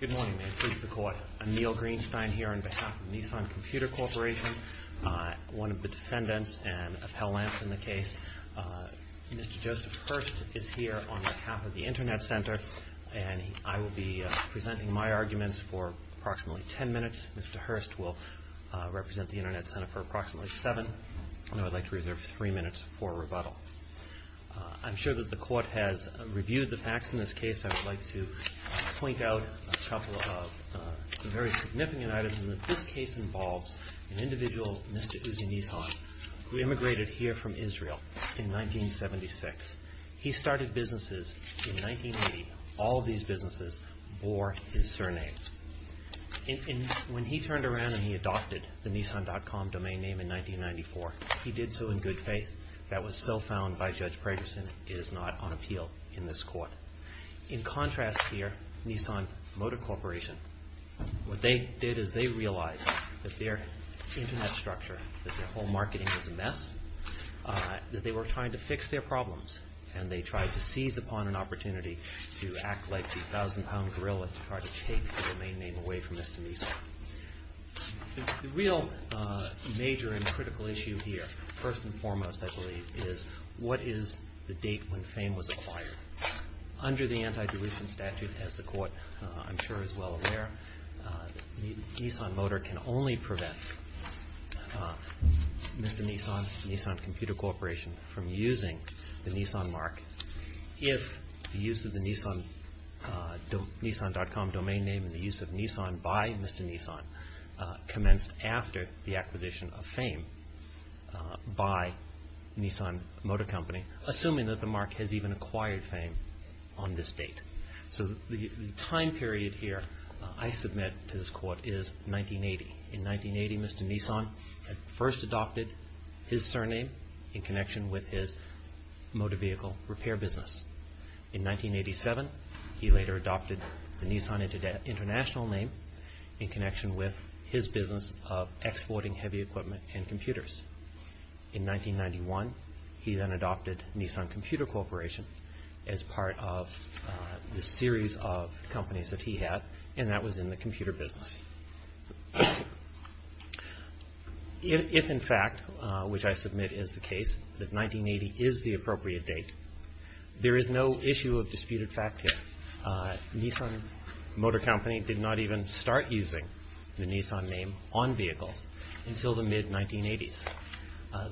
Good morning, may it please the Court. I'm Neil Greenstein here on behalf of Nissan Computer Corporation, one of the defendants and appellants in the case. Mr. Joseph Hurst is here on behalf of the Internet Center, and I will be presenting my arguments for approximately ten minutes. Mr. Hurst will represent the Internet Center for approximately seven, and I would like to reserve three minutes for rebuttal. I'm sure that the Court has reviewed the facts in this case. I would like to point out a couple of very significant items. This case involves an individual, Mr. Uzi Nissan, who immigrated here from Israel in 1976. He started businesses in 1980. All of these businesses bore his surname. When he turned around and he adopted the Nissan.com domain name in 1994, he did so in good faith. That was so found by Judge Pragerson, it is not on appeal in this Court. In contrast here, Nissan Motor Corporation, what they did is they realized that their Internet structure, that their whole marketing was a mess, that they were trying to fix their problems, and they tried to seize upon an opportunity to act like the thousand-pound gorilla to try to take the domain name away from Mr. Nissan. The real major and critical issue here, first and foremost, I believe, is what is the date when fame was acquired. Under the anti-dilution statute, as the Court, I'm sure, is well aware, Nissan Motor can only prevent Mr. Nissan and Nissan Computer Corporation from using the Nissan mark if the use of the Nissan.com domain name and the use of Nissan by Mr. Nissan commenced after the acquisition of fame by Nissan Motor Company, assuming that the mark has even acquired fame on this date. So the time period here I submit to this Court is 1980. In 1980, Mr. Nissan first adopted his surname in connection with his motor vehicle repair business. In 1987, he later adopted the Nissan International name in connection with his business of exporting heavy equipment and computers. In 1991, he then adopted Nissan Computer Corporation as part of the series of companies that he had, and that was in the computer business. If, in fact, which I submit is the case, that 1980 is the appropriate date, there is no issue of disputed fact here. Nissan Motor Company did not even start using the Nissan name on vehicles until the mid-1980s.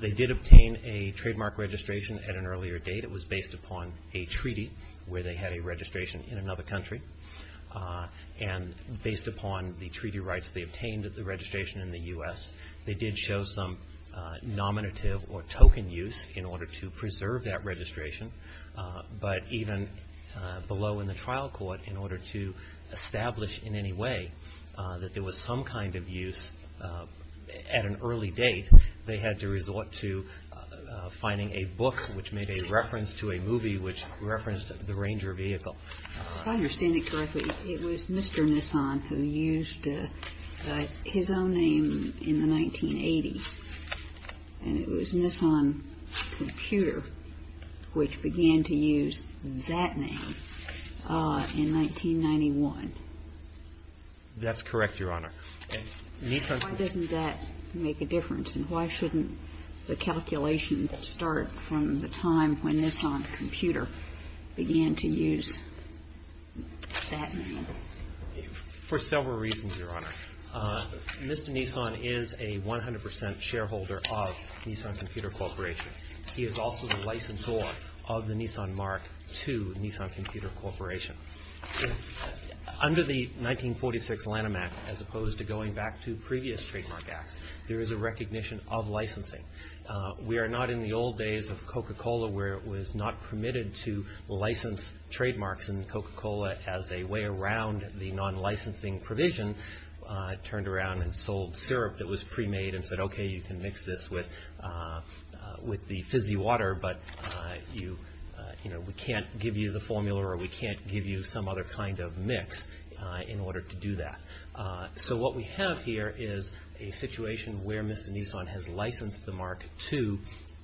They did obtain a trademark registration at an earlier date. It was based upon a treaty where they had a registration in another country, and based upon the treaty rights they obtained at the registration in the U.S., they did show some nominative or token use in order to preserve that registration. But even below in the trial court, in order to establish in any way that there was some kind of use at an early date, they had to resort to finding a book which made a reference to a movie which referenced the Ranger vehicle. If I understand it correctly, it was Mr. Nissan who used his own name in the 1980s, and it was Nissan Computer which began to use that name in 1991. That's correct, Your Honor. Why doesn't that make a difference, and why shouldn't the calculation start from the time when Nissan Computer began to use that name? For several reasons, Your Honor. Mr. Nissan is a 100 percent shareholder of Nissan Computer Corporation. He is also the licensor of the Nissan mark to Nissan Computer Corporation. Under the 1946 Lanham Act, as opposed to going back to previous trademark acts, there is a recognition of licensing. We are not in the old days of Coca-Cola where it was not permitted to license trademarks in Coca-Cola as a way around the non-licensing provision. It turned around and sold syrup that was pre-made and said, okay, you can mix this with the fizzy water, but we can't give you the formula or we can't give you some other kind of mix in order to do that. So what we have here is a situation where Mr. Nissan has licensed the mark to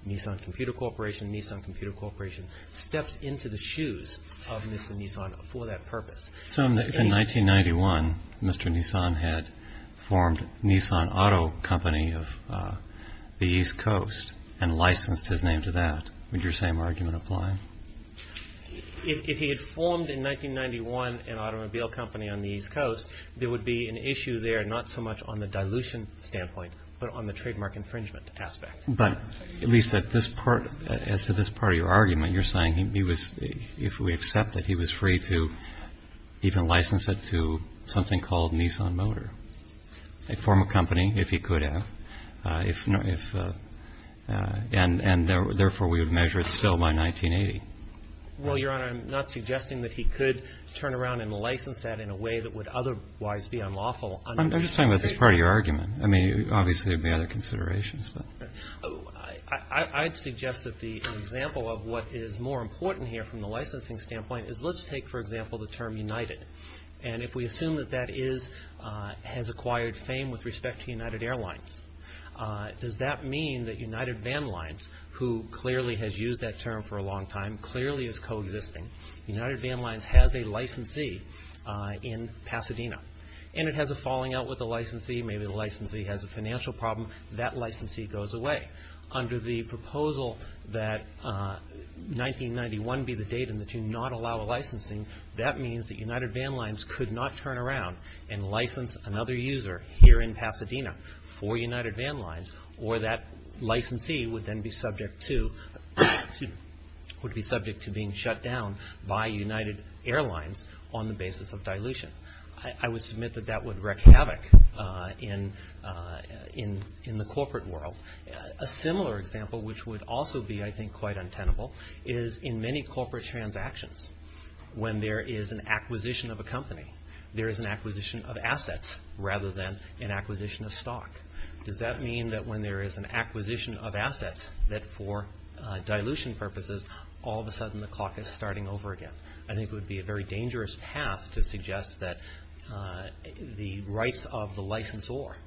Nissan Computer Corporation. Nissan Computer Corporation steps into the shoes of Mr. Nissan for that purpose. So if in 1991 Mr. Nissan had formed Nissan Auto Company of the East Coast and licensed his name to that, would your same argument apply? If he had formed in 1991 an automobile company on the East Coast, there would be an issue there not so much on the dilution standpoint but on the trademark infringement aspect. But at least at this part, as to this part of your argument, you're saying he was, if we accept that he was free to even license it to something called Nissan Motor, form a company if he could have, if, and therefore we would measure it still by 1980. Well, Your Honor, I'm not suggesting that he could turn around and license that in a way that would otherwise be unlawful. I'm just talking about this part of your argument. I mean, obviously there would be other considerations. I'd suggest that the example of what is more important here from the licensing standpoint is, let's take, for example, the term United. And if we assume that that is, has acquired fame with respect to United Airlines, does that mean that United Van Lines, who clearly has used that term for a long time, clearly is coexisting. United Van Lines has a licensee in Pasadena. And it has a falling out with the licensee. Maybe the licensee has a financial problem. That licensee goes away. Under the proposal that 1991 be the date in which you not allow a licensing, that means that United Van Lines could not turn around and license another user here in Pasadena for United Van Lines, or that licensee would then be subject to, would be subject to being shut down by United Airlines on the basis of dilution. I would submit that that would wreak havoc in the corporate world. A similar example, which would also be, I think, quite untenable, is in many corporate transactions. When there is an acquisition of a company, there is an acquisition of assets rather than an acquisition of stock. Does that mean that when there is an acquisition of assets that for dilution purposes, all of a sudden the clock is starting over again? I think it would be a very dangerous path to suggest that the rights of the licensor,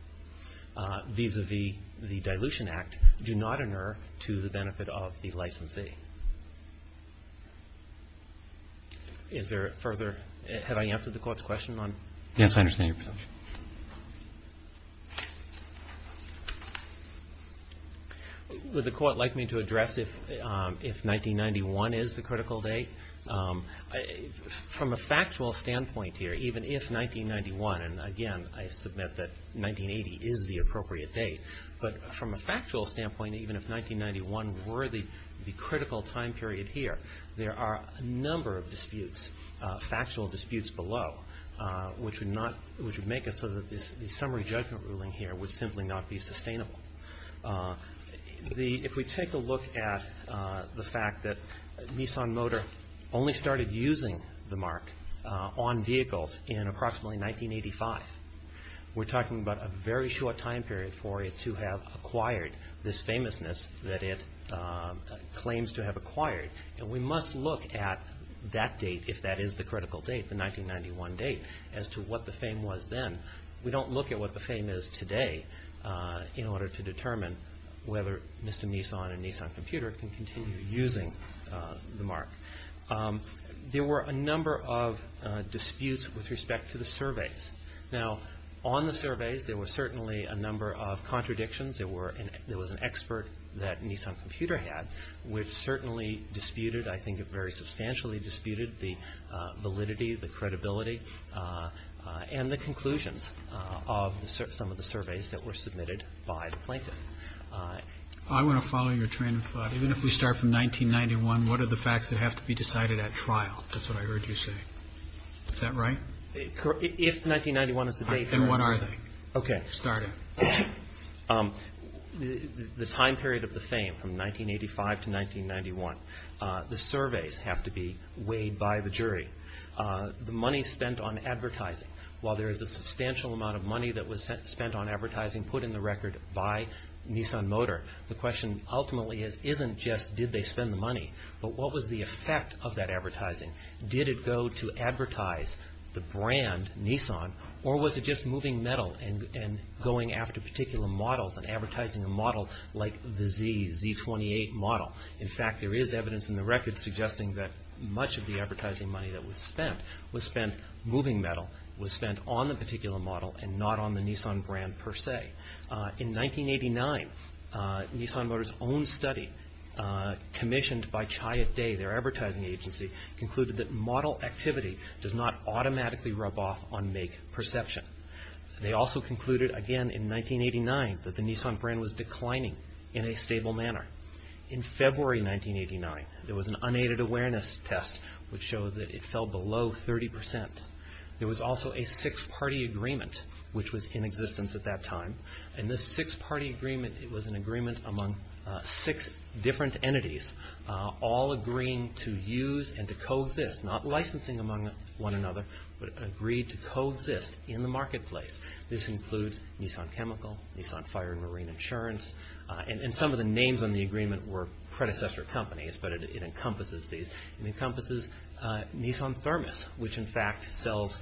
vis-à-vis the Dilution Act, do not inure to the benefit of the licensee. Is there further, have I answered the court's question on? Yes, I understand your position. Would the court like me to address if 1991 is the critical date? From a factual standpoint here, even if 1991, and again, I submit that 1980 is the appropriate date, but from a factual standpoint, even if 1991 were the critical time period here, there are a number of disputes, factual disputes below, which would make it so that the summary judgment ruling here would simply not be sustainable. If we take a look at the fact that Nissan Motor only started using the mark on vehicles in approximately 1985, we're talking about a very short time period for it to have acquired this famousness that it claims to have acquired. And we must look at that date, if that is the critical date, the 1991 date, as to what the fame was then. We don't look at what the fame is today in order to determine whether Mr. Nissan and Nissan Computer can continue using the mark. There were a number of disputes with respect to the surveys. Now, on the surveys there were certainly a number of contradictions. There was an expert that Nissan Computer had, which certainly disputed, I think it very substantially disputed, the validity, the credibility, and the conclusions of some of the surveys that were submitted by the plaintiff. I want to follow your train of thought. Even if we start from 1991, what are the facts that have to be decided at trial? That's what I heard you say. Is that right? If 1991 is the date, then what are they? Okay. Start it. The time period of the fame from 1985 to 1991, the surveys have to be weighed by the jury. The money spent on advertising, while there is a substantial amount of money that was spent on advertising put in the record by Nissan Motor, the question ultimately isn't just did they spend the money, but what was the effect of that advertising? Did it go to advertise the brand, Nissan, or was it just moving metal and going after particular models and advertising a model like the Z, Z28 model? In fact, there is evidence in the record suggesting that much of the advertising money that was spent was spent moving metal, was spent on the particular model and not on the Nissan brand per se. In 1989, Nissan Motor's own study commissioned by Chiat Day, their advertising agency, concluded that model activity does not automatically rub off on make perception. They also concluded, again in 1989, that the Nissan brand was declining in a stable manner. In February 1989, there was an unaided awareness test which showed that it fell below 30%. There was also a six-party agreement which was in existence at that time, and this six-party agreement was an agreement among six different entities, all agreeing to use and to co-exist, not licensing among one another, but agreed to co-exist in the marketplace. This includes Nissan Chemical, Nissan Fire and Marine Insurance, and some of the names on the agreement were predecessor companies, but it encompasses these. Which in fact sells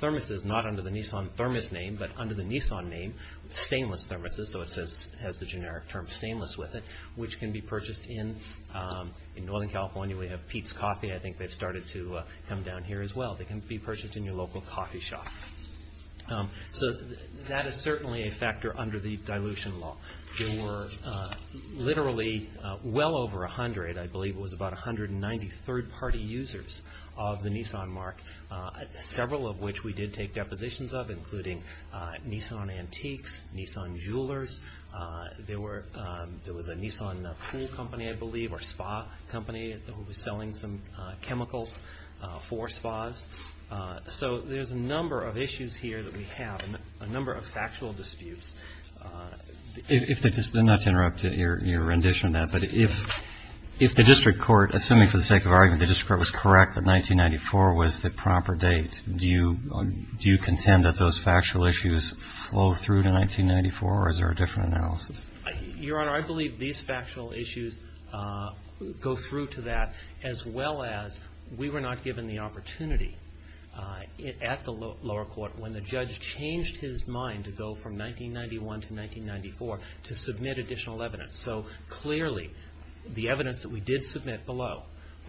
thermoses, not under the Nissan thermos name, but under the Nissan name, stainless thermoses, so it has the generic term stainless with it, which can be purchased in Northern California. We have Pete's Coffee, I think they've started to come down here as well. They can be purchased in your local coffee shop. So that is certainly a factor under the dilution law. There were literally well over 100, I believe it was about 190 third-party users of the Nissan mark, several of which we did take depositions of, including Nissan Antiques, Nissan Jewelers. There was a Nissan pool company, I believe, or spa company that was selling some chemicals for spas. So there's a number of issues here that we have, a number of factual disputes. Not to interrupt your rendition of that, but if the district court, assuming for the sake of argument, the district court was correct that 1994 was the proper date, do you contend that those factual issues flow through to 1994, or is there a different analysis? Your Honor, I believe these factual issues go through to that, as well as we were not given the opportunity at the lower court when the judge changed his mind to go from 1991 to 1994 to submit additional evidence. So clearly the evidence that we did submit below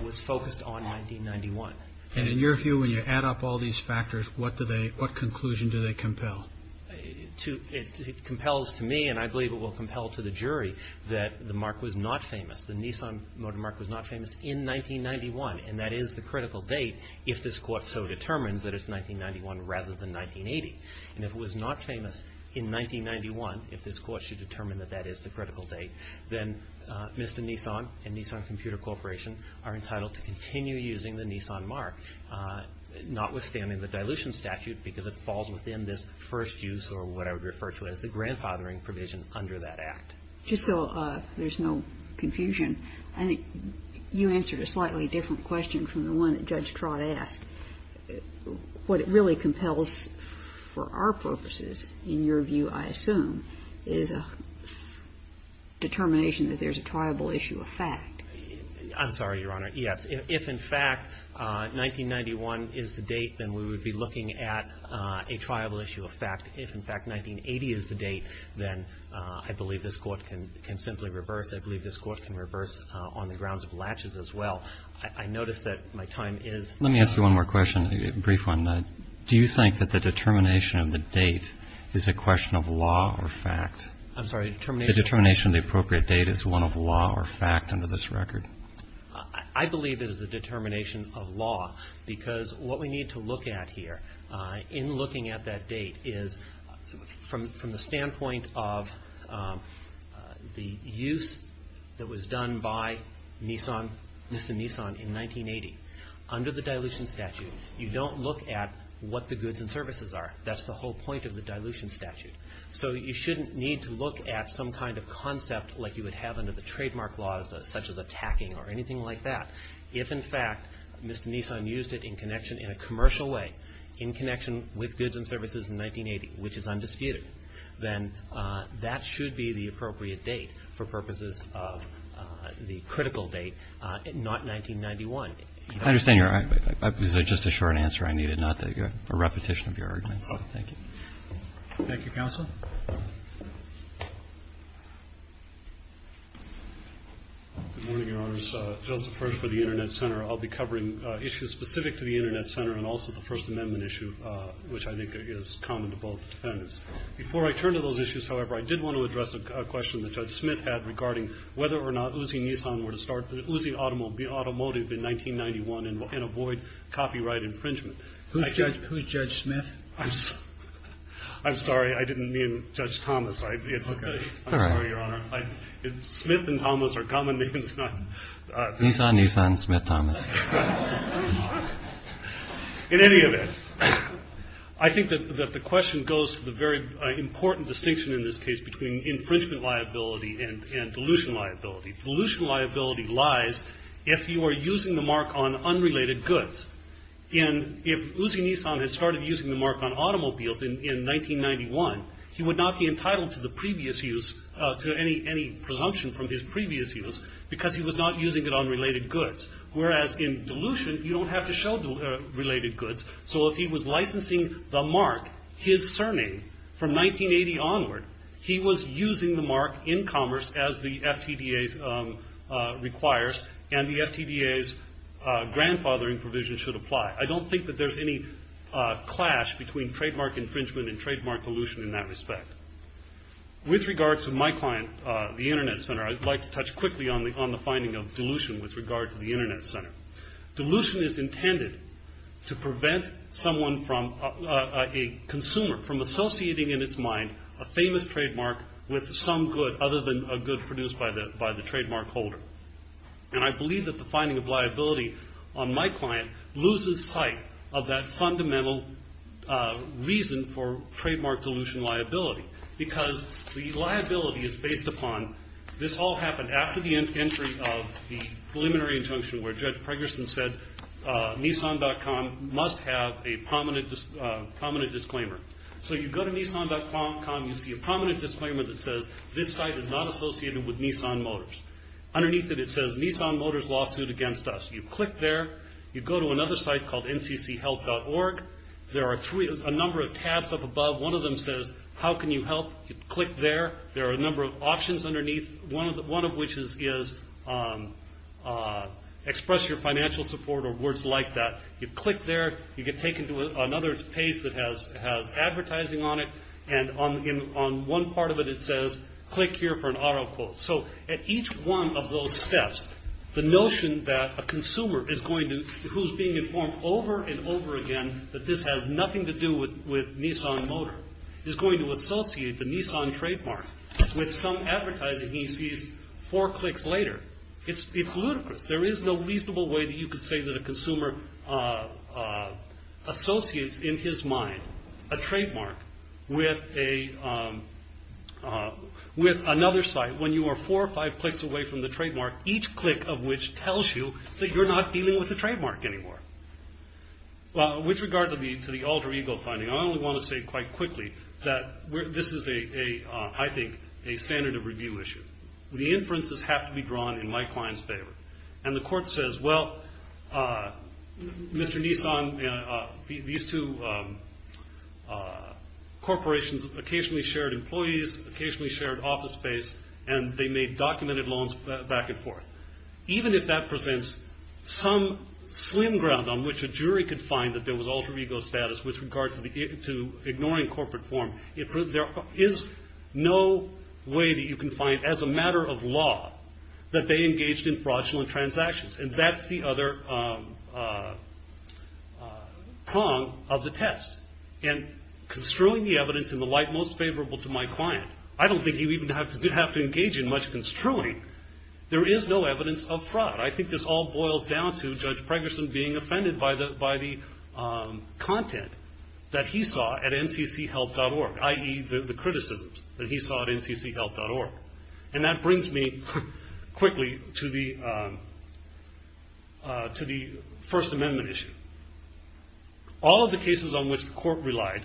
was focused on 1991. And in your view, when you add up all these factors, what conclusion do they compel? It compels to me, and I believe it will compel to the jury, that the mark was not famous, the Nissan motor mark was not famous in 1991, and that is the critical date if this court so determines that it's 1991 rather than 1980. And if it was not famous in 1991, if this court should determine that that is the critical date, then Mr. Nissan and Nissan Computer Corporation are entitled to continue using the Nissan mark, notwithstanding the dilution statute, because it falls within this first use, or what I would refer to as the grandfathering provision under that act. Just so there's no confusion, I think you answered a slightly different question from the one that Judge Trott asked. What it really compels for our purposes, in your view, I assume, is a determination that there's a triable issue of fact. I'm sorry, Your Honor. Yes. If, in fact, 1991 is the date, then we would be looking at a triable issue of fact. If, in fact, 1980 is the date, then I believe this court can simply reverse. I believe this court can reverse on the grounds of latches as well. I notice that my time is up. Let me ask you one more question, a brief one. Do you think that the determination of the date is a question of law or fact? I'm sorry, determination? The determination of the appropriate date is one of law or fact under this record. I believe it is a determination of law, because what we need to look at here in looking at that date is, from the standpoint of the use that was done by Nissan, Mr. Nissan, in 1980, under the dilution statute, you don't look at what the goods and services are. That's the whole point of the dilution statute. So you shouldn't need to look at some kind of concept like you would have under the trademark laws, such as attacking or anything like that, if, in fact, Mr. Nissan used it in connection, in a commercial way, in connection with goods and services in 1980, which is undisputed. Then that should be the appropriate date for purposes of the critical date, not 1991. I understand your argument. It was just a short answer I needed, not a repetition of your arguments. Thank you. Thank you, Counsel. Good morning, Your Honors. Joseph Hirsch for the Internet Center. I'll be covering issues specific to the Internet Center and also the First Amendment issue, which I think is common to both defendants. Before I turn to those issues, however, I did want to address a question that Judge Smith had regarding whether or not Uzi Nissan were to start the Uzi Automotive in 1991 and avoid copyright infringement. Who's Judge Smith? I'm sorry. I didn't mean Judge Thomas. I'm sorry, Your Honor. Smith and Thomas are common names. He's not Nissan. Smith and Thomas. In any event, I think that the question goes to the very important distinction in this case between infringement liability and dilution liability. Dilution liability lies if you are using the mark on unrelated goods. And if Uzi Nissan had started using the mark on automobiles in 1991, he would not be entitled to the previous use, to any presumption from his previous use, because he was not using it on related goods. Whereas in dilution, you don't have to show related goods. So if he was licensing the mark, his surname, from 1980 onward, he was using the mark in commerce as the FTDA requires, and the FTDA's grandfathering provision should apply. I don't think that there's any clash between trademark infringement and trademark dilution in that respect. With regard to my client, the Internet Center, I'd like to touch quickly on the finding of dilution with regard to the Internet Center. Dilution is intended to prevent a consumer from associating in its mind a famous trademark with some good other than a good produced by the trademark holder. And I believe that the finding of liability on my client loses sight of that fundamental reason for trademark dilution liability. Because the liability is based upon, this all happened after the entry of the preliminary injunction where Judge Pregerson said Nissan.com must have a prominent disclaimer. So you go to Nissan.com, you see a prominent disclaimer that says, this site is not associated with Nissan Motors. Underneath it, it says Nissan Motors lawsuit against us. You click there, you go to another site called ncchelp.org. There are a number of tabs up above. One of them says, how can you help? You click there. There are a number of options underneath, one of which is express your financial support or words like that. You click there. You get taken to another page that has advertising on it. And on one part of it, it says, click here for an auto quote. So at each one of those steps, the notion that a consumer is going to, who is being informed over and over again that this has nothing to do with Nissan Motor, is going to associate the Nissan trademark with some advertising he sees four clicks later. It's ludicrous. There is no reasonable way that you could say that a consumer associates in his mind a trademark with another site when you are four or five clicks away from the trademark, each click of which tells you that you're not dealing with the trademark anymore. With regard to the alter ego finding, I only want to say quite quickly that this is, I think, a standard of review issue. The inferences have to be drawn in my client's favor. And the court says, well, Mr. Nissan, these two corporations occasionally shared employees, occasionally shared office space, and they made documented loans back and forth. Even if that presents some slim ground on which a jury could find that there was alter ego status with regard to ignoring corporate form, there is no way that you can find, as a matter of law, that they engaged in fraudulent transactions. And that's the other prong of the test. And construing the evidence in the light most favorable to my client, I don't think you even have to engage in much construing. There is no evidence of fraud. I think this all boils down to Judge Pregerson being offended by the content that he saw at ncchelp.org, i.e., the criticisms that he saw at ncchelp.org. And that brings me quickly to the First Amendment issue. All of the cases on which the court relied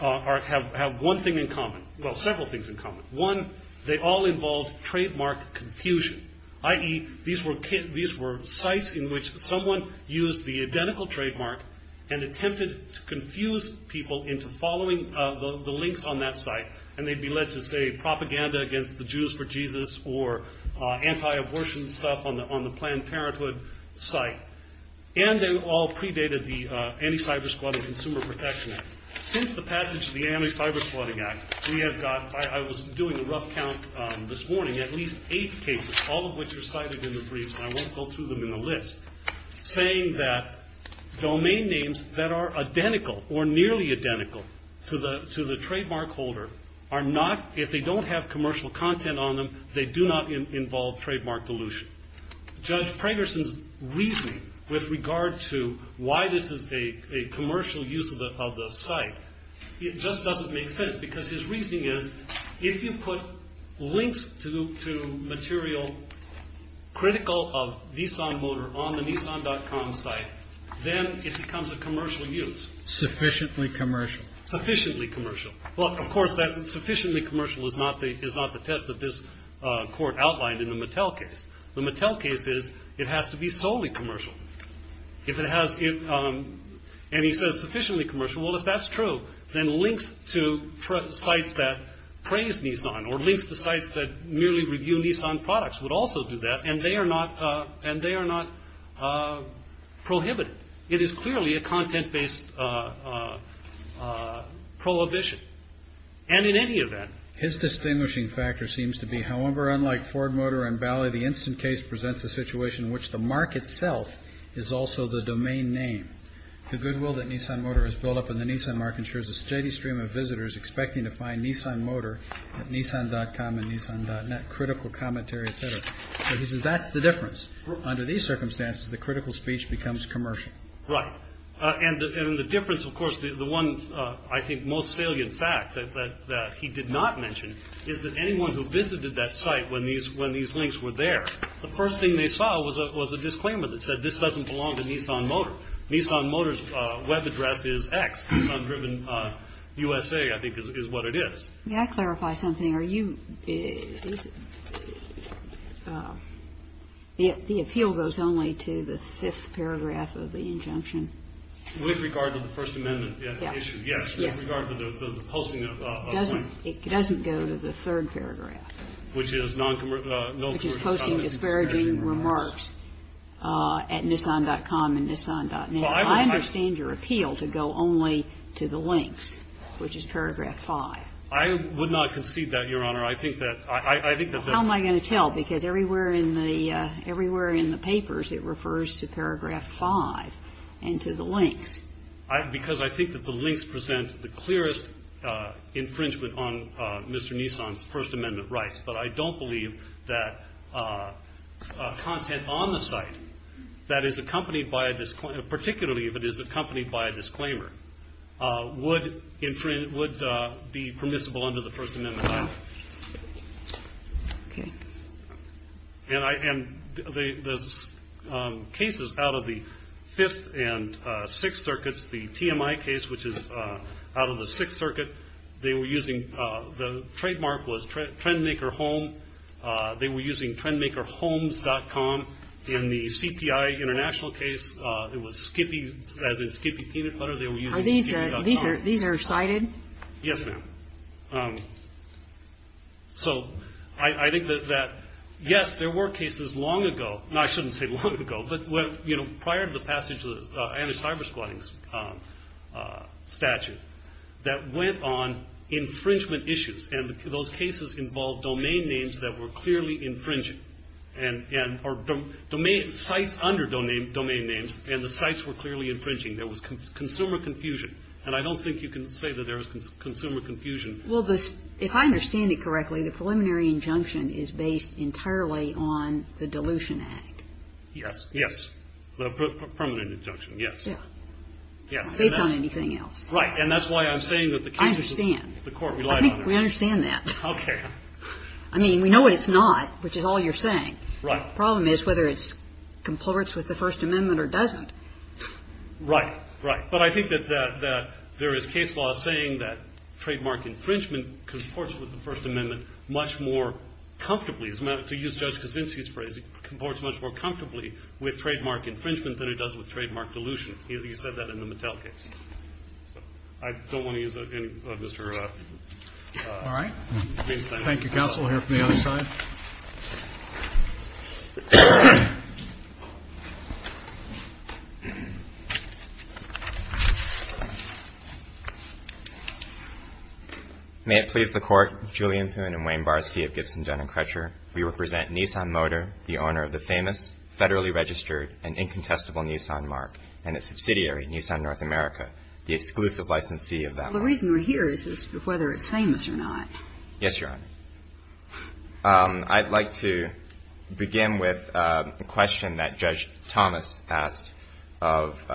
have one thing in common. Well, several things in common. One, they all involved trademark confusion, i.e., these were sites in which someone used the identical trademark and attempted to confuse people into following the links on that site. And they'd be led to, say, propaganda against the Jews for Jesus or anti-abortion stuff on the Planned Parenthood site. And they all predated the Anti-Cybersquad and Consumer Protection Act. Since the passage of the Anti-Cybersquad Act, we have got, I was doing a rough count this morning, at least eight cases, all of which are cited in the briefs, and I won't go through them in the list, saying that domain names that are identical or nearly identical to the trademark holder are not, if they don't have commercial content on them, they do not involve trademark delusion. Judge Pregerson's reasoning with regard to why this is a commercial use of the site, it just doesn't make sense because his reasoning is if you put links to material critical of Nissan Motor on the Nissan.com site, then it becomes a commercial use. Sufficiently commercial. Sufficiently commercial. Well, of course, that sufficiently commercial is not the test that this court outlined in the Mattel case. The Mattel case is it has to be solely commercial. If it has, and he says sufficiently commercial, well, if that's true, then links to sites that praise Nissan or links to sites that merely review Nissan products would also do that, and they are not prohibited. It is clearly a content-based prohibition. And in any event. His distinguishing factor seems to be, however, unlike Ford Motor and Bally, the instant case presents a situation in which the mark itself is also the domain name. The goodwill that Nissan Motor has built up in the Nissan mark ensures a steady stream of visitors expecting to find Nissan Motor at Nissan.com and Nissan.net, critical commentary, et cetera. He says that's the difference. Under these circumstances, the critical speech becomes commercial. Right. And the difference, of course, the one I think most salient fact that he did not mention is that anyone who visited that site when these links were there, the first thing they saw was a disclaimer that said this doesn't belong to Nissan Motor. Nissan Motor's web address is X. Nissan Driven USA, I think, is what it is. May I clarify something? The appeal goes only to the fifth paragraph of the injunction? With regard to the First Amendment issue. Yes. Yes. With regard to the posting of links. It doesn't go to the third paragraph. Which is non-commercial. Which is posting disparaging remarks at Nissan.com and Nissan.net. I understand your appeal to go only to the links, which is paragraph 5. I would not concede that, Your Honor. I think that the How am I going to tell? Because everywhere in the papers it refers to paragraph 5 and to the links. Because I think that the links present the clearest infringement on Mr. Nissan's First Amendment rights. But I don't believe that content on the site that is accompanied by a disclaimer particularly if it is accompanied by a disclaimer would be permissible under the First Amendment Act. And the cases out of the Fifth and Sixth Circuits, the TMI case, which is out of the Sixth Circuit, they were using the trademark was Trendmaker Home. They were using TrendmakerHomes.com. In the CPI International case, it was Skippy, as in Skippy Peanut Butter. They were using Skippy.com. These are cited? Yes, ma'am. So I think that, yes, there were cases long ago. No, I shouldn't say long ago. But prior to the passage of the anti-cybersquatting statute that went on infringement issues. And those cases involved domain names that were clearly infringing. And the sites under domain names and the sites were clearly infringing. There was consumer confusion. And I don't think you can say that there was consumer confusion. Well, if I understand it correctly, the preliminary injunction is based entirely on the Dilution Act. Yes. Yes. The permanent injunction, yes. Yes. Based on anything else. Right. And that's why I'm saying that the cases of the court relied on that. We understand that. Okay. I mean, we know what it's not, which is all you're saying. Right. The problem is whether it comports with the First Amendment or doesn't. Right. Right. But I think that there is case law saying that trademark infringement comports with the First Amendment much more comfortably, to use Judge Kuczynski's phrase, it comports much more comfortably with trademark infringement than it does with trademark dilution. He said that in the Mattel case. I don't want to use any of Mr. Weinstein's time. All right. Thank you, counsel. We'll hear from the other side. May it please the Court, Julian Poon and Wayne Barsky of Gibson, Dun & Kretcher. We represent Nissan Motor, the owner of the famous, federally registered, and incontestable Nissan marque, and its subsidiary, Nissan North America, the exclusive licensee of that marque. The reason we're here is whether it's famous or not. Yes, Your Honor. I'd like to begin with a question that Judge Thomas asked of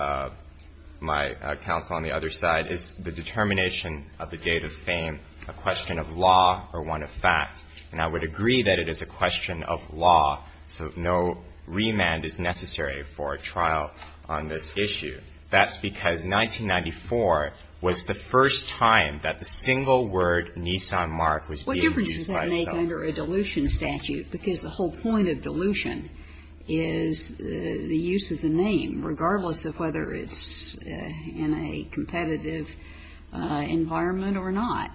my counsel on the other side, is the determination of the date of fame a question of law or one of fact? And I would agree that it is a question of law, so no remand is necessary for a trial on this issue. That's because 1994 was the first time that the single word Nissan marque was being used by someone. What difference does that make under a dilution statute? Because the whole point of dilution is the use of the name, regardless of whether it's in a competitive environment or not.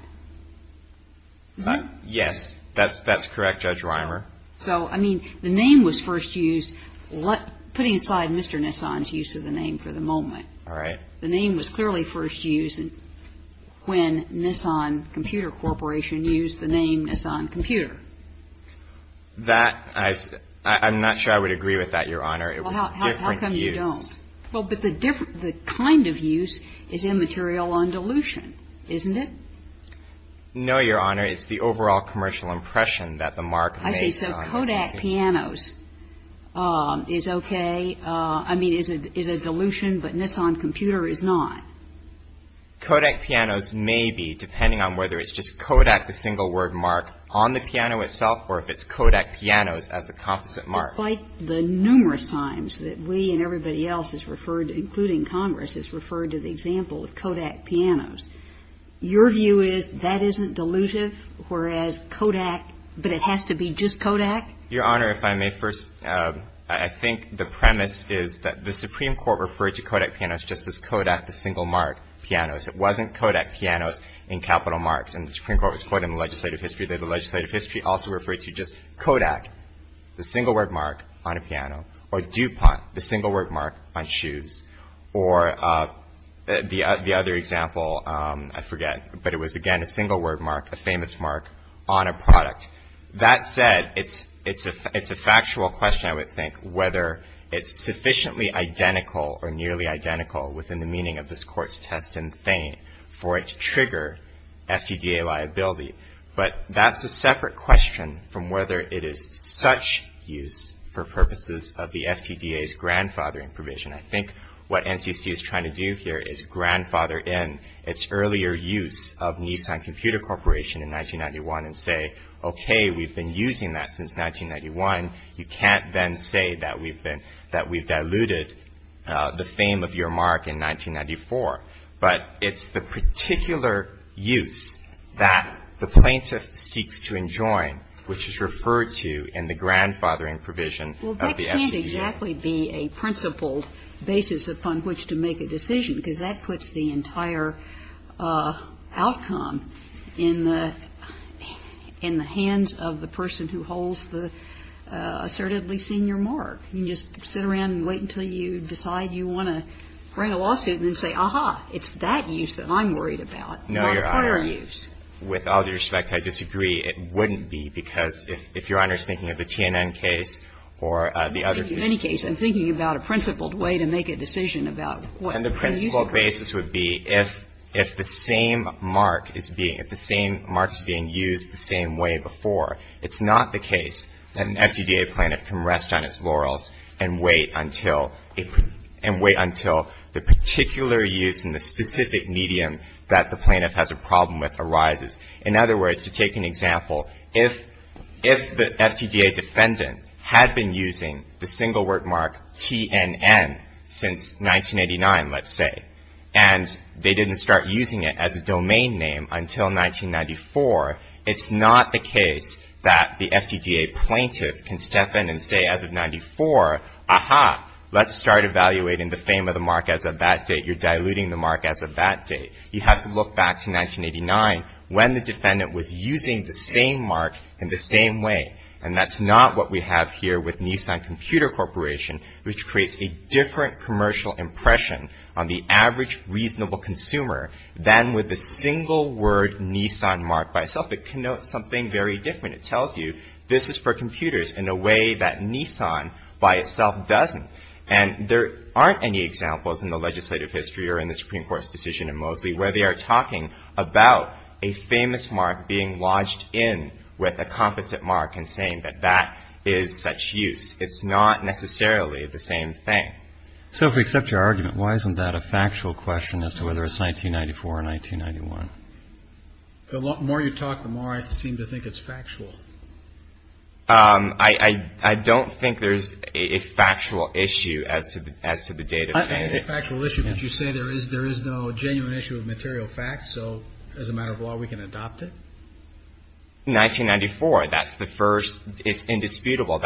Yes, that's correct, Judge Rimer. So, I mean, the name was first used, putting aside Mr. Nissan's use of the name for the moment. All right. The name was clearly first used when Nissan Computer Corporation used the name Nissan Computer. That, I'm not sure I would agree with that, Your Honor. It was a different use. Well, how come you don't? Well, but the kind of use is immaterial on dilution, isn't it? No, Your Honor. It's the overall commercial impression that the marque makes on a dilution. I see. So Kodak Pianos is okay, I mean, is a dilution, but Nissan Computer is not. Kodak Pianos may be, depending on whether it's just Kodak, the single word marque, on the piano itself or if it's Kodak Pianos as the composite marque. Despite the numerous times that we and everybody else is referred to, including Congress, is referred to the example of Kodak Pianos. Your view is that isn't dilutive, whereas Kodak, but it has to be just Kodak? Your Honor, if I may first, I think the premise is that the Supreme Court referred to Kodak Pianos just as Kodak, the single marque, Pianos. It wasn't Kodak Pianos in capital marques, and the Supreme Court was quoted in the legislative history that the legislative history also referred to just Kodak, the single word marque, on a piano, or DuPont, the single word marque, on shoes. Or the other example, I forget, but it was, again, a single word marque, a famous marque, on a product. That said, it's a factual question, I would think, whether it's sufficiently identical or nearly identical within the meaning of this Court's test and feign for it to trigger FTDA liability. But that's a separate question from whether it is such use for purposes of the FTDA's grandfathering provision. I think what NCC is trying to do here is grandfather in its earlier use of Nissan Computer Corporation in 1991 and say, okay, we've been using that since 1991. You can't then say that we've been, that we've diluted the fame of your marque in 1994. But it's the particular use that the plaintiff seeks to enjoin, which is referred to in the grandfathering provision of the FTDA. And I don't think that would exactly be a principled basis upon which to make a decision, because that puts the entire outcome in the hands of the person who holds the assertively senior marque. You can just sit around and wait until you decide you want to write a lawsuit and then say, aha, it's that use that I'm worried about, not prior use. With all due respect, I disagree. It wouldn't be, because if Your Honor's thinking of the TNN case or the other. Kagan in any case, I'm thinking about a principled way to make a decision about what the use of it is. And the principled basis would be if the same marque is being, if the same marque is being used the same way before, it's not the case that an FTDA plaintiff can rest on its laurels and wait until, and wait until the particular use in the specific medium that the plaintiff has a problem with arises. In other words, to take an example, if the FTDA defendant had been using the single word marque TNN since 1989, let's say, and they didn't start using it as a domain name until 1994, it's not the case that the FTDA plaintiff can step in and say as of 94, aha, let's start evaluating the fame of the marque as of that date. You're diluting the marque as of that date. You have to look back to 1989 when the defendant was using the same marque in the same way. And that's not what we have here with Nissan Computer Corporation, which creates a different commercial impression on the average reasonable consumer than with the single word Nissan marque by itself. It connotes something very different. It tells you this is for computers in a way that Nissan by itself doesn't. And there aren't any examples in the legislative history or in the Supreme Court's decision in Moseley where they are talking about a famous marque being lodged in with a composite marque and saying that that is such use. It's not necessarily the same thing. So if we accept your argument, why isn't that a factual question as to whether it's 1994 or 1991? The more you talk, the more I seem to think it's factual. I don't think there's a factual issue as to the date. I think it's a factual issue because you say there is no genuine issue of material facts. So as a matter of law, we can adopt it. 1994, that's the first. It's indisputable.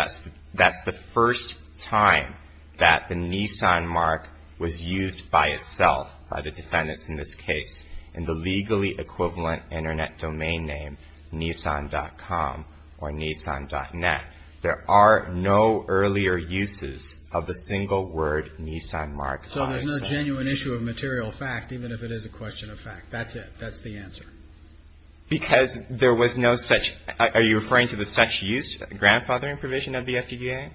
That's the first time that the Nissan marque was used by itself by the defendants in this case in the legally equivalent Internet domain name Nissan.com or Nissan.net. There are no earlier uses of the single word Nissan marque by itself. So there's no genuine issue of material fact, even if it is a question of fact. That's it. That's the answer. Because there was no such – are you referring to the such use grandfathering provision of the FTDA?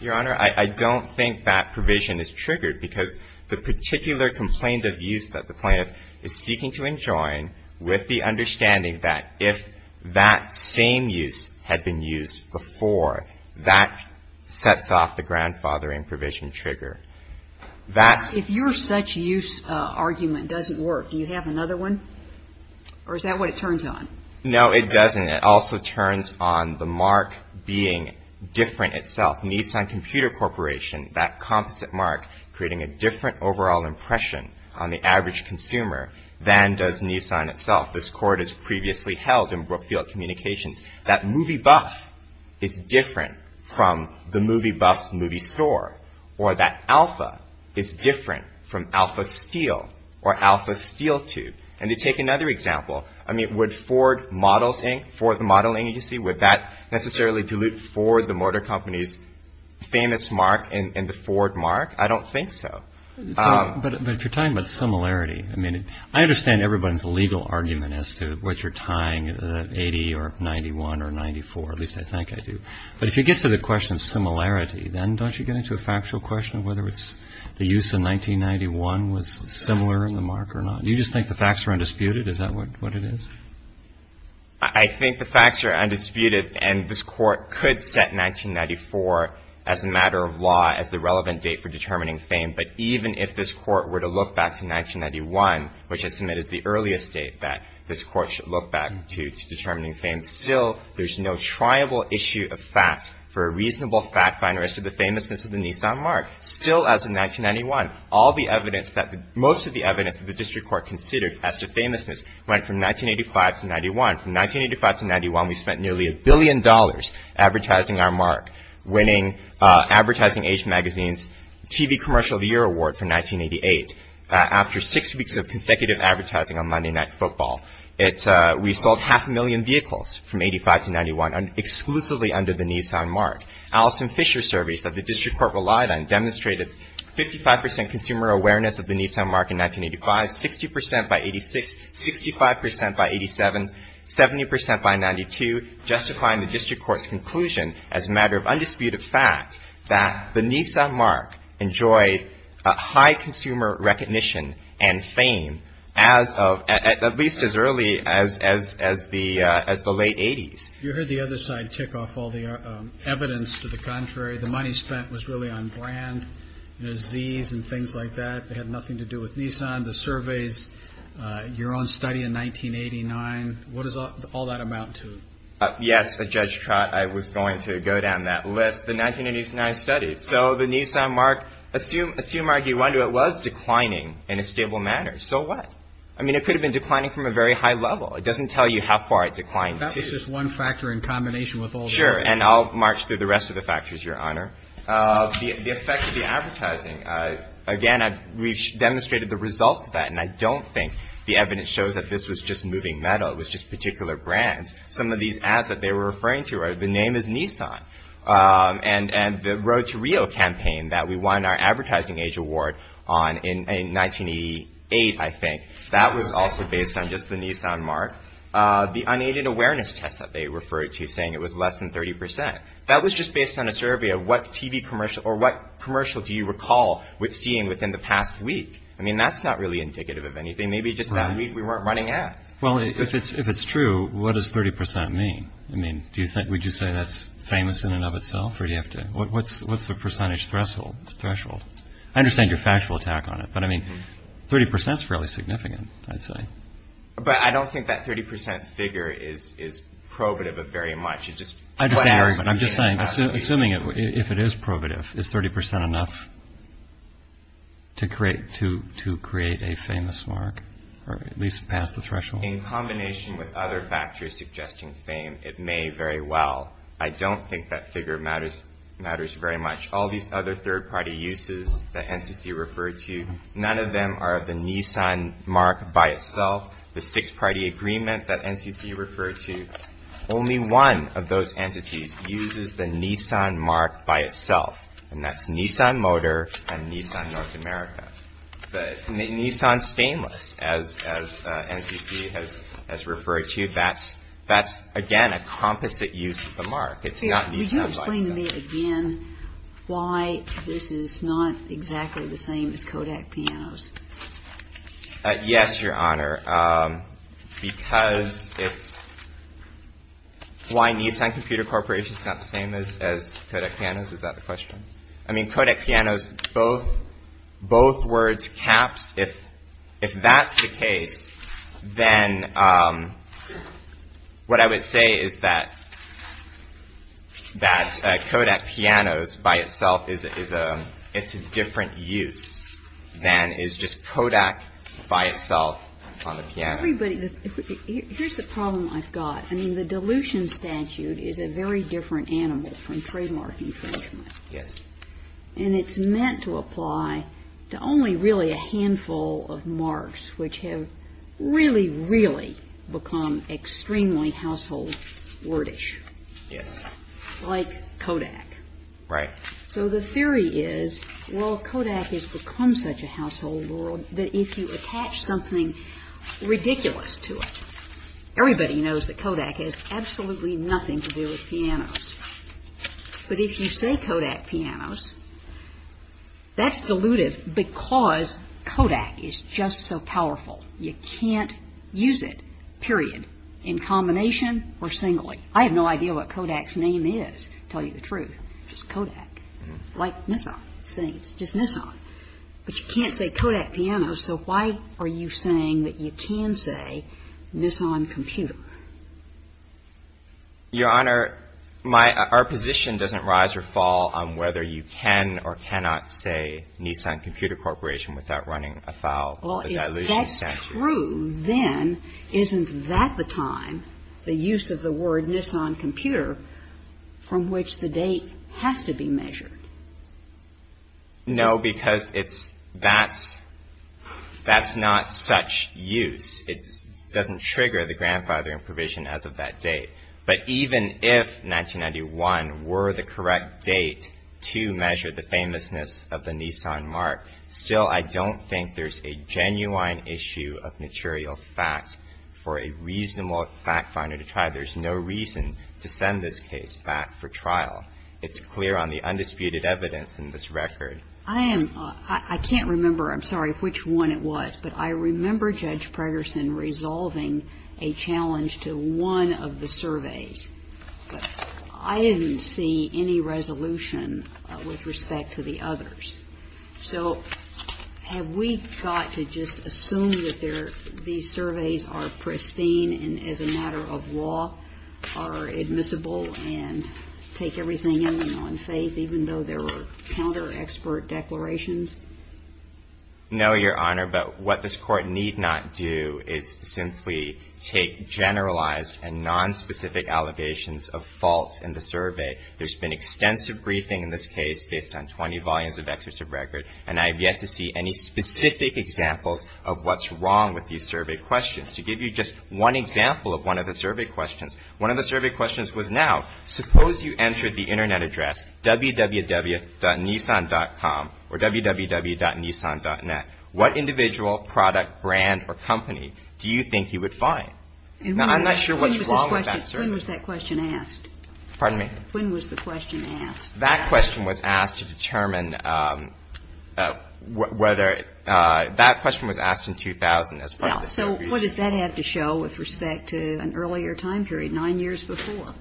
Your Honor, I don't think that provision is triggered because the particular complaint of use that the plaintiff is seeking to enjoin with the understanding that if that same use had been used before, that sets off the grandfathering provision trigger. If your such use argument doesn't work, do you have another one? Or is that what it turns on? No, it doesn't. It also turns on the marque being different itself. Nissan Computer Corporation, that competent marque, creating a different overall impression on the average consumer than does Nissan itself. This court has previously held in Brookfield Communications that movie buff is different from the movie buff's movie store, or that alpha is different from alpha steel or alpha steel tube. And to take another example, I mean, would Ford Models Inc., Ford Modeling Agency, would that necessarily dilute Ford, the motor company's famous marque in the Ford marque? I don't think so. But if you're talking about similarity, I mean, I understand everybody's legal argument as to what you're tying 80 or 91 or 94, at least I think I do. But if you get to the question of similarity, then don't you get into a factual question of whether the use of 1991 was similar in the marque or not? Do you just think the facts are undisputed? Is that what it is? I think the facts are undisputed, and this court could set 1994 as a matter of law as the relevant date for determining fame. But even if this court were to look back to 1991, which I submit is the earliest date that this court should look back to determining fame, still there's no triable issue of fact for a reasonable fact finder as to the famousness of the Nissan marque. Still, as of 1991, all the evidence that the — From 1985 to 91, we spent nearly a billion dollars advertising our marque, winning Advertising Age Magazine's TV Commercial of the Year Award from 1988. After six weeks of consecutive advertising on Monday Night Football, we sold half a million vehicles from 85 to 91 exclusively under the Nissan marque. Allison Fisher surveys that the district court relied on demonstrated 55 percent consumer awareness of the Nissan marque in 1985, 60 percent by 86, 65 percent by 87, 70 percent by 92, justifying the district court's conclusion as a matter of undisputed fact that the Nissan marque enjoyed high consumer recognition and fame as of — at least as early as the late 80s. You heard the other side tick off all the evidence to the contrary. The money spent was really on brand, you know, Zs and things like that. They had nothing to do with Nissan. The surveys, your own study in 1989, what does all that amount to? Yes, Judge Trott, I was going to go down that list, the 1989 studies. So the Nissan marque, assume, argue, wonder, it was declining in a stable manner. So what? I mean, it could have been declining from a very high level. It doesn't tell you how far it declined to. That was just one factor in combination with all the others. Sure, and I'll march through the rest of the factors, Your Honor. The effect of the advertising. Again, we've demonstrated the results of that, and I don't think the evidence shows that this was just moving metal. It was just particular brands. Some of these ads that they were referring to, the name is Nissan. And the Road to Rio campaign that we won our Advertising Age Award on in 1988, I think, that was also based on just the Nissan marque. The unaided awareness test that they referred to saying it was less than 30 percent. That was just based on a survey of what TV commercial or what commercial do you recall seeing within the past week. I mean, that's not really indicative of anything. Maybe just that week we weren't running ads. Well, if it's true, what does 30 percent mean? I mean, would you say that's famous in and of itself? What's the percentage threshold? I understand your factual attack on it, but, I mean, 30 percent is fairly significant, I'd say. But I don't think that 30 percent figure is probative of very much. I'm just saying, assuming if it is probative, is 30 percent enough to create a famous marque or at least pass the threshold? In combination with other factories suggesting fame, it may very well. I don't think that figure matters very much. All these other third-party uses that NCC referred to, none of them are the Nissan marque by itself. The six-party agreement that NCC referred to, only one of those entities uses the Nissan marque by itself, and that's Nissan Motor and Nissan North America. The Nissan Stainless, as NCC has referred to, that's, again, a composite use of the marque. It's not Nissan by itself. Could you explain to me again why this is not exactly the same as Kodak Pianos? Yes, Your Honor. Because it's, why Nissan Computer Corporation is not the same as Kodak Pianos, is that the question? I mean, Kodak Pianos, both words, caps, if that's the case, then what I would say is that Kodak Pianos by itself is a different use than is just Kodak by itself on the piano. Everybody, here's the problem I've got. I mean, the dilution statute is a very different animal from trademark infringement. Yes. And it's meant to apply to only really a handful of marques which have really, really become extremely household wordish. Yes. Like Kodak. Right. So the theory is, well, Kodak has become such a household word that if you attach something ridiculous to it, everybody knows that Kodak has absolutely nothing to do with pianos. But if you say Kodak Pianos, that's dilutive because Kodak is just so powerful. You can't use it, period, in combination or singly. I have no idea what Kodak's name is, to tell you the truth. Just Kodak. Like Nissan. It's just Nissan. But you can't say Kodak Pianos, so why are you saying that you can say Nissan Computer? Your Honor, my – our position doesn't rise or fall on whether you can or cannot say Nissan Computer Corporation without running afoul of the dilution statute. Well, if that's true, then isn't that the time, the use of the word Nissan Computer, from which the date has to be measured? No, because it's – that's – that's not such use. It doesn't trigger the grandfathering provision as of that date. But even if 1991 were the correct date to measure the famousness of the Nissan mark, still I don't think there's a genuine issue of material fact for a reasonable fact finder to try. There's no reason to send this case back for trial. It's clear on the undisputed evidence in this record. I am – I can't remember, I'm sorry, which one it was, but I remember Judge Pregerson resolving a challenge to one of the surveys. But I didn't see any resolution with respect to the others. So have we got to just assume that there – these surveys are pristine and as a matter of law are admissible and take everything in on faith, even though there were counter-expert declarations? No, Your Honor. But what this Court need not do is simply take generalized and nonspecific allegations of faults in the survey. There's been extensive briefing in this case based on 20 volumes of excerpts of record, and I have yet to see any specific examples of what's wrong with these survey questions. To give you just one example of one of the survey questions, one of the survey questions was now, suppose you entered the Internet address www.nissan.com or www.nissan.net. What individual, product, brand, or company do you think you would find? Now, I'm not sure what's wrong with that survey. When was that question asked? Pardon me? When was the question asked? That question was asked to determine whether – that question was asked in 2000 as part of the survey. Well, so what does that have to show with respect to an earlier time period, 9 years before?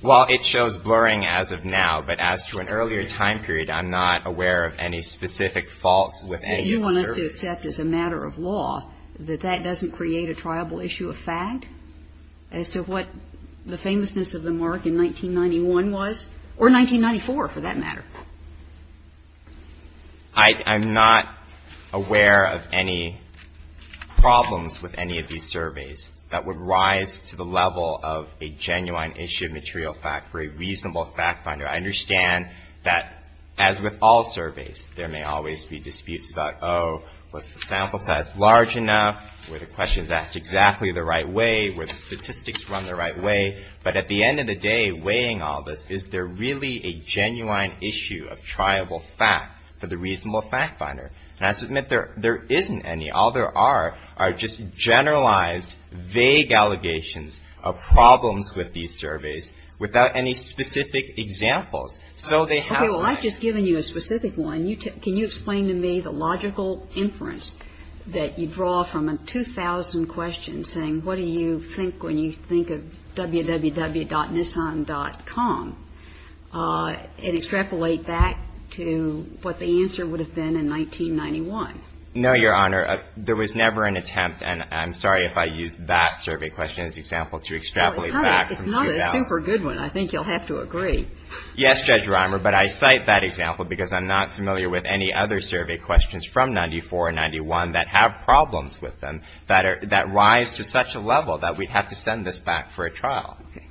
Well, it shows blurring as of now. But as to an earlier time period, I'm not aware of any specific faults within the survey. You want us to accept as a matter of law that that doesn't create a triable issue of fact as to what the famousness of the mark in 1991 was, or 1994, for that matter? I'm not aware of any problems with any of these surveys that would rise to the level of a genuine issue of material fact for a reasonable fact finder. I understand that, as with all surveys, there may always be disputes about, oh, was the sample size large enough? Were the questions asked exactly the right way? Were the statistics run the right way? But at the end of the day, weighing all this, is there really a genuine issue of triable fact for the reasonable fact finder? And I submit there isn't any. All there are are just generalized, vague allegations of problems with these surveys without any specific examples. So they have size. Okay. Well, I've just given you a specific one. Can you explain to me the logical inference that you draw from a 2,000 question saying, what do you think when you think of www.nissan.com and extrapolate back to what the answer would have been in 1991? No, Your Honor. There was never an attempt, and I'm sorry if I used that survey question as an example to extrapolate back from 2,000. Well, it's not a super good one. I think you'll have to agree. Yes, Judge Reimer, but I cite that example because I'm not familiar with any other survey questions from 94 and 91 that have problems with them that rise to such a level that we'd have to send this back for a trial. Okay.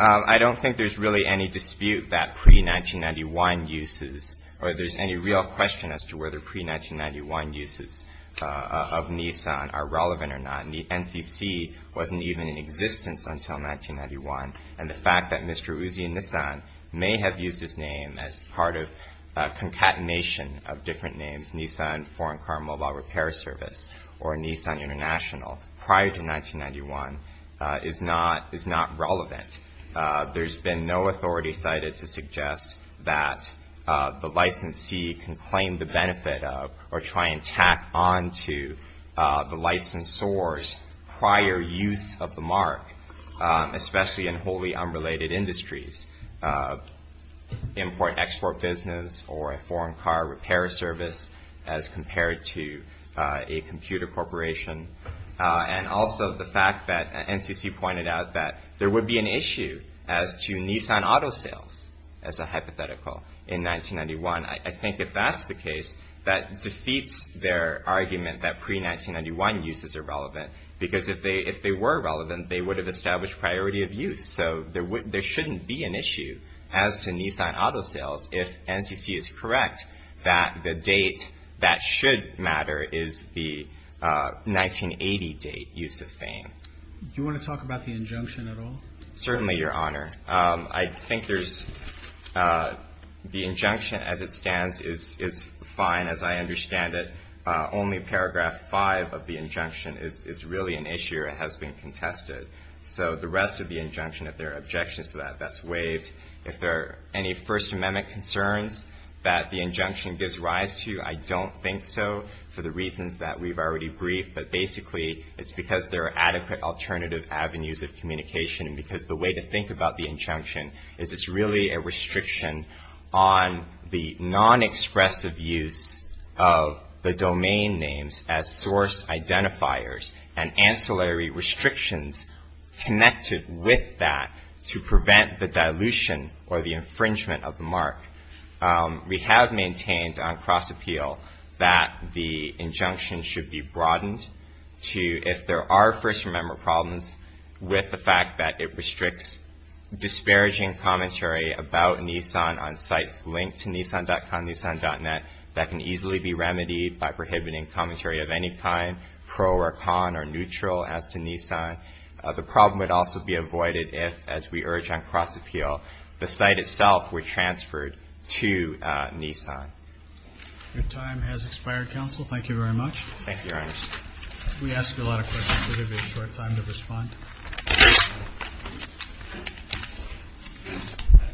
I don't think there's really any dispute that pre-1991 uses, or there's any real question as to whether pre-1991 uses of Nissan are relevant or not. The NCC wasn't even in existence until 1991, and the fact that Mr. Uzi Nissan may have used his name as part of concatenation of different names, Nissan Foreign Car Mobile Repair Service or Nissan International, prior to 1991 is not relevant. There's been no authority cited to suggest that the licensee can claim the benefit of or try and tack on to the licensor's prior use of the mark, especially in wholly unrelated industries, import-export business or a foreign car repair service as compared to a computer corporation. And also the fact that NCC pointed out that there would be an issue as to Nissan auto sales as a hypothetical in 1991. I think if that's the case, that defeats their argument that pre-1991 uses are relevant because if they were relevant, they would have established priority of use. So there shouldn't be an issue as to Nissan auto sales if NCC is correct that the date that should matter is the 1980 date use of fame. Do you want to talk about the injunction at all? Certainly, Your Honor. I think the injunction as it stands is fine as I understand it. Only paragraph 5 of the injunction is really an issue. It has been contested. So the rest of the injunction, if there are objections to that, that's waived. If there are any First Amendment concerns that the injunction gives rise to, I don't think so for the reasons that we've already briefed. But basically, it's because there are adequate alternative avenues of communication and because the way to think about the injunction is it's really a restriction on the non-expressive use of the domain names as source identifiers and ancillary restrictions connected with that to prevent the dilution or the infringement of the mark. We have maintained on cross-appeal that the injunction should be broadened to, if there are First Amendment problems, with the fact that it restricts disparaging commentary about Nissan on sites linked to Nissan.com, Nissan.net, that can easily be remedied by prohibiting commentary of any kind, pro or con or neutral as to Nissan. The problem would also be avoided if, as we urge on cross-appeal, the site itself were transferred to Nissan. Your time has expired, Counsel. Thank you, Your Honor. We ask a lot of questions, so we'll give you a short time to respond.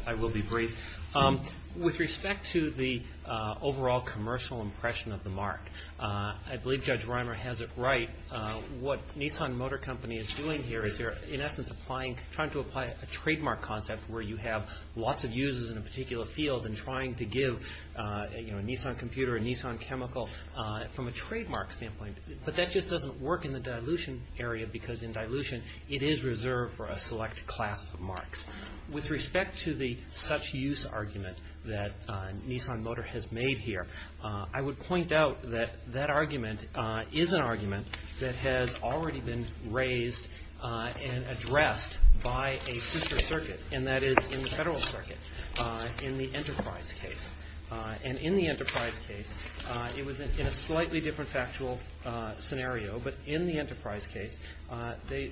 I will be brief. With respect to the overall commercial impression of the mark, I believe Judge Reimer has it right. What Nissan Motor Company is doing here is they're, in essence, trying to apply a trademark concept where you have lots of users in a particular field and trying to give a Nissan computer, a Nissan chemical, from a trademark standpoint, but that just doesn't work in the dilution area, because in dilution it is reserved for a select class of marks. With respect to the such-use argument that Nissan Motor has made here, I would point out that that argument is an argument that has already been raised and addressed by a sister circuit, and that is in the Federal Circuit, in the Enterprise case. And in the Enterprise case, it was in a slightly different factual scenario, but in the Enterprise case, the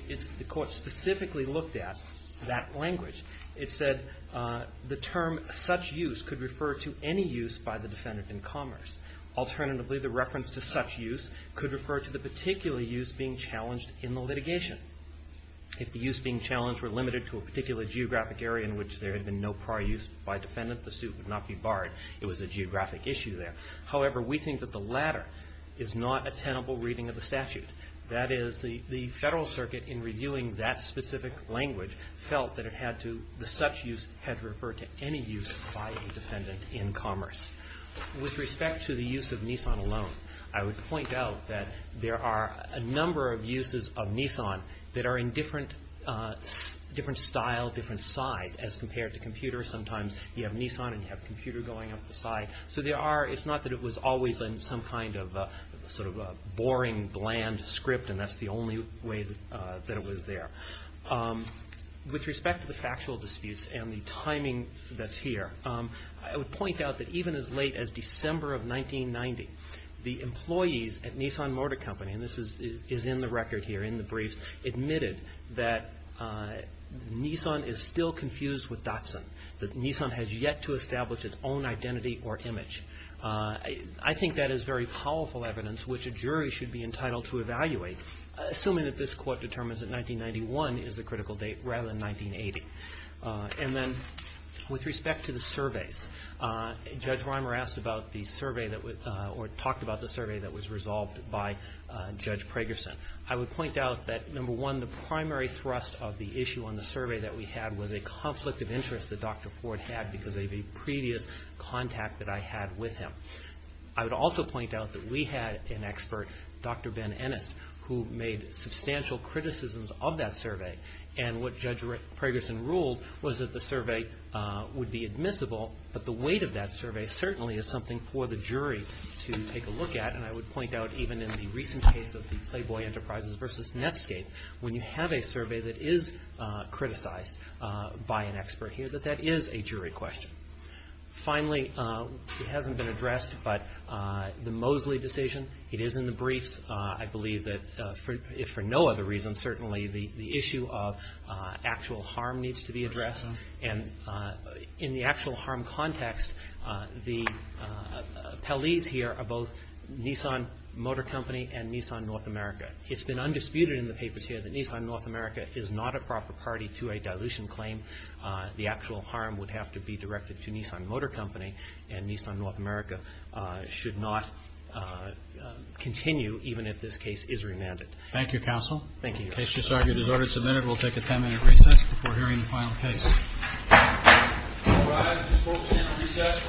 Court specifically looked at that language. It said the term such-use could refer to any use by the defendant in commerce. Alternatively, the reference to such-use could refer to the particular use being challenged in the litigation. If the use being challenged were limited to a particular geographic area in which there had been no prior use by a defendant, the suit would not be barred. It was a geographic issue there. However, we think that the latter is not a tenable reading of the statute. That is, the Federal Circuit, in reviewing that specific language, felt that the such-use had to refer to any use by a defendant in commerce. With respect to the use of Nissan alone, I would point out that there are a number of uses of Nissan that are in different style, different size, as compared to computers. Sometimes you have Nissan and you have a computer going up the side. So it's not that it was always in some kind of boring, bland script, and that's the only way that it was there. With respect to the factual disputes and the timing that's here, I would point out that even as late as December of 1990, the employees at Nissan Motor Company, and this is in the record here, in the briefs, admitted that Nissan is still confused with Datsun, that Nissan has yet to establish its own identity or image. I think that is very powerful evidence which a jury should be entitled to evaluate, assuming that this Court determines that 1991 is the critical date, rather than 1980. And then with respect to the surveys, Judge Reimer asked about the survey that was, or talked about the survey that was resolved by Judge Pragerson. I would point out that, number one, the primary thrust of the issue on the survey that we had was a conflict of interest that Dr. Ford had because of a previous contact that I had with him. I would also point out that we had an expert, Dr. Ben Ennis, who made substantial criticisms of that survey. And what Judge Pragerson ruled was that the survey would be admissible, but the weight of that survey certainly is something for the jury to take a look at. And I would point out, even in the recent case of the Playboy Enterprises versus Netscape, when you have a survey that is criticized by an expert here, that that is a jury question. Finally, it hasn't been addressed, but the Mosley decision, it is in the briefs. I believe that, if for no other reason, certainly the issue of actual harm needs to be addressed. And in the actual harm context, the Pelleys here are both Nissan Motor Company and Nissan North America. It's been undisputed in the papers here that Nissan North America is not a proper party to a dilution claim. The actual harm would have to be directed to Nissan Motor Company, and Nissan North America should not continue, even if this case is remanded. Thank you, Counsel. Thank you. The case just argued is order submitted. We'll take a 10-minute recess before hearing the final case. All rise. This court will stand on recess for five minutes and 10 minutes.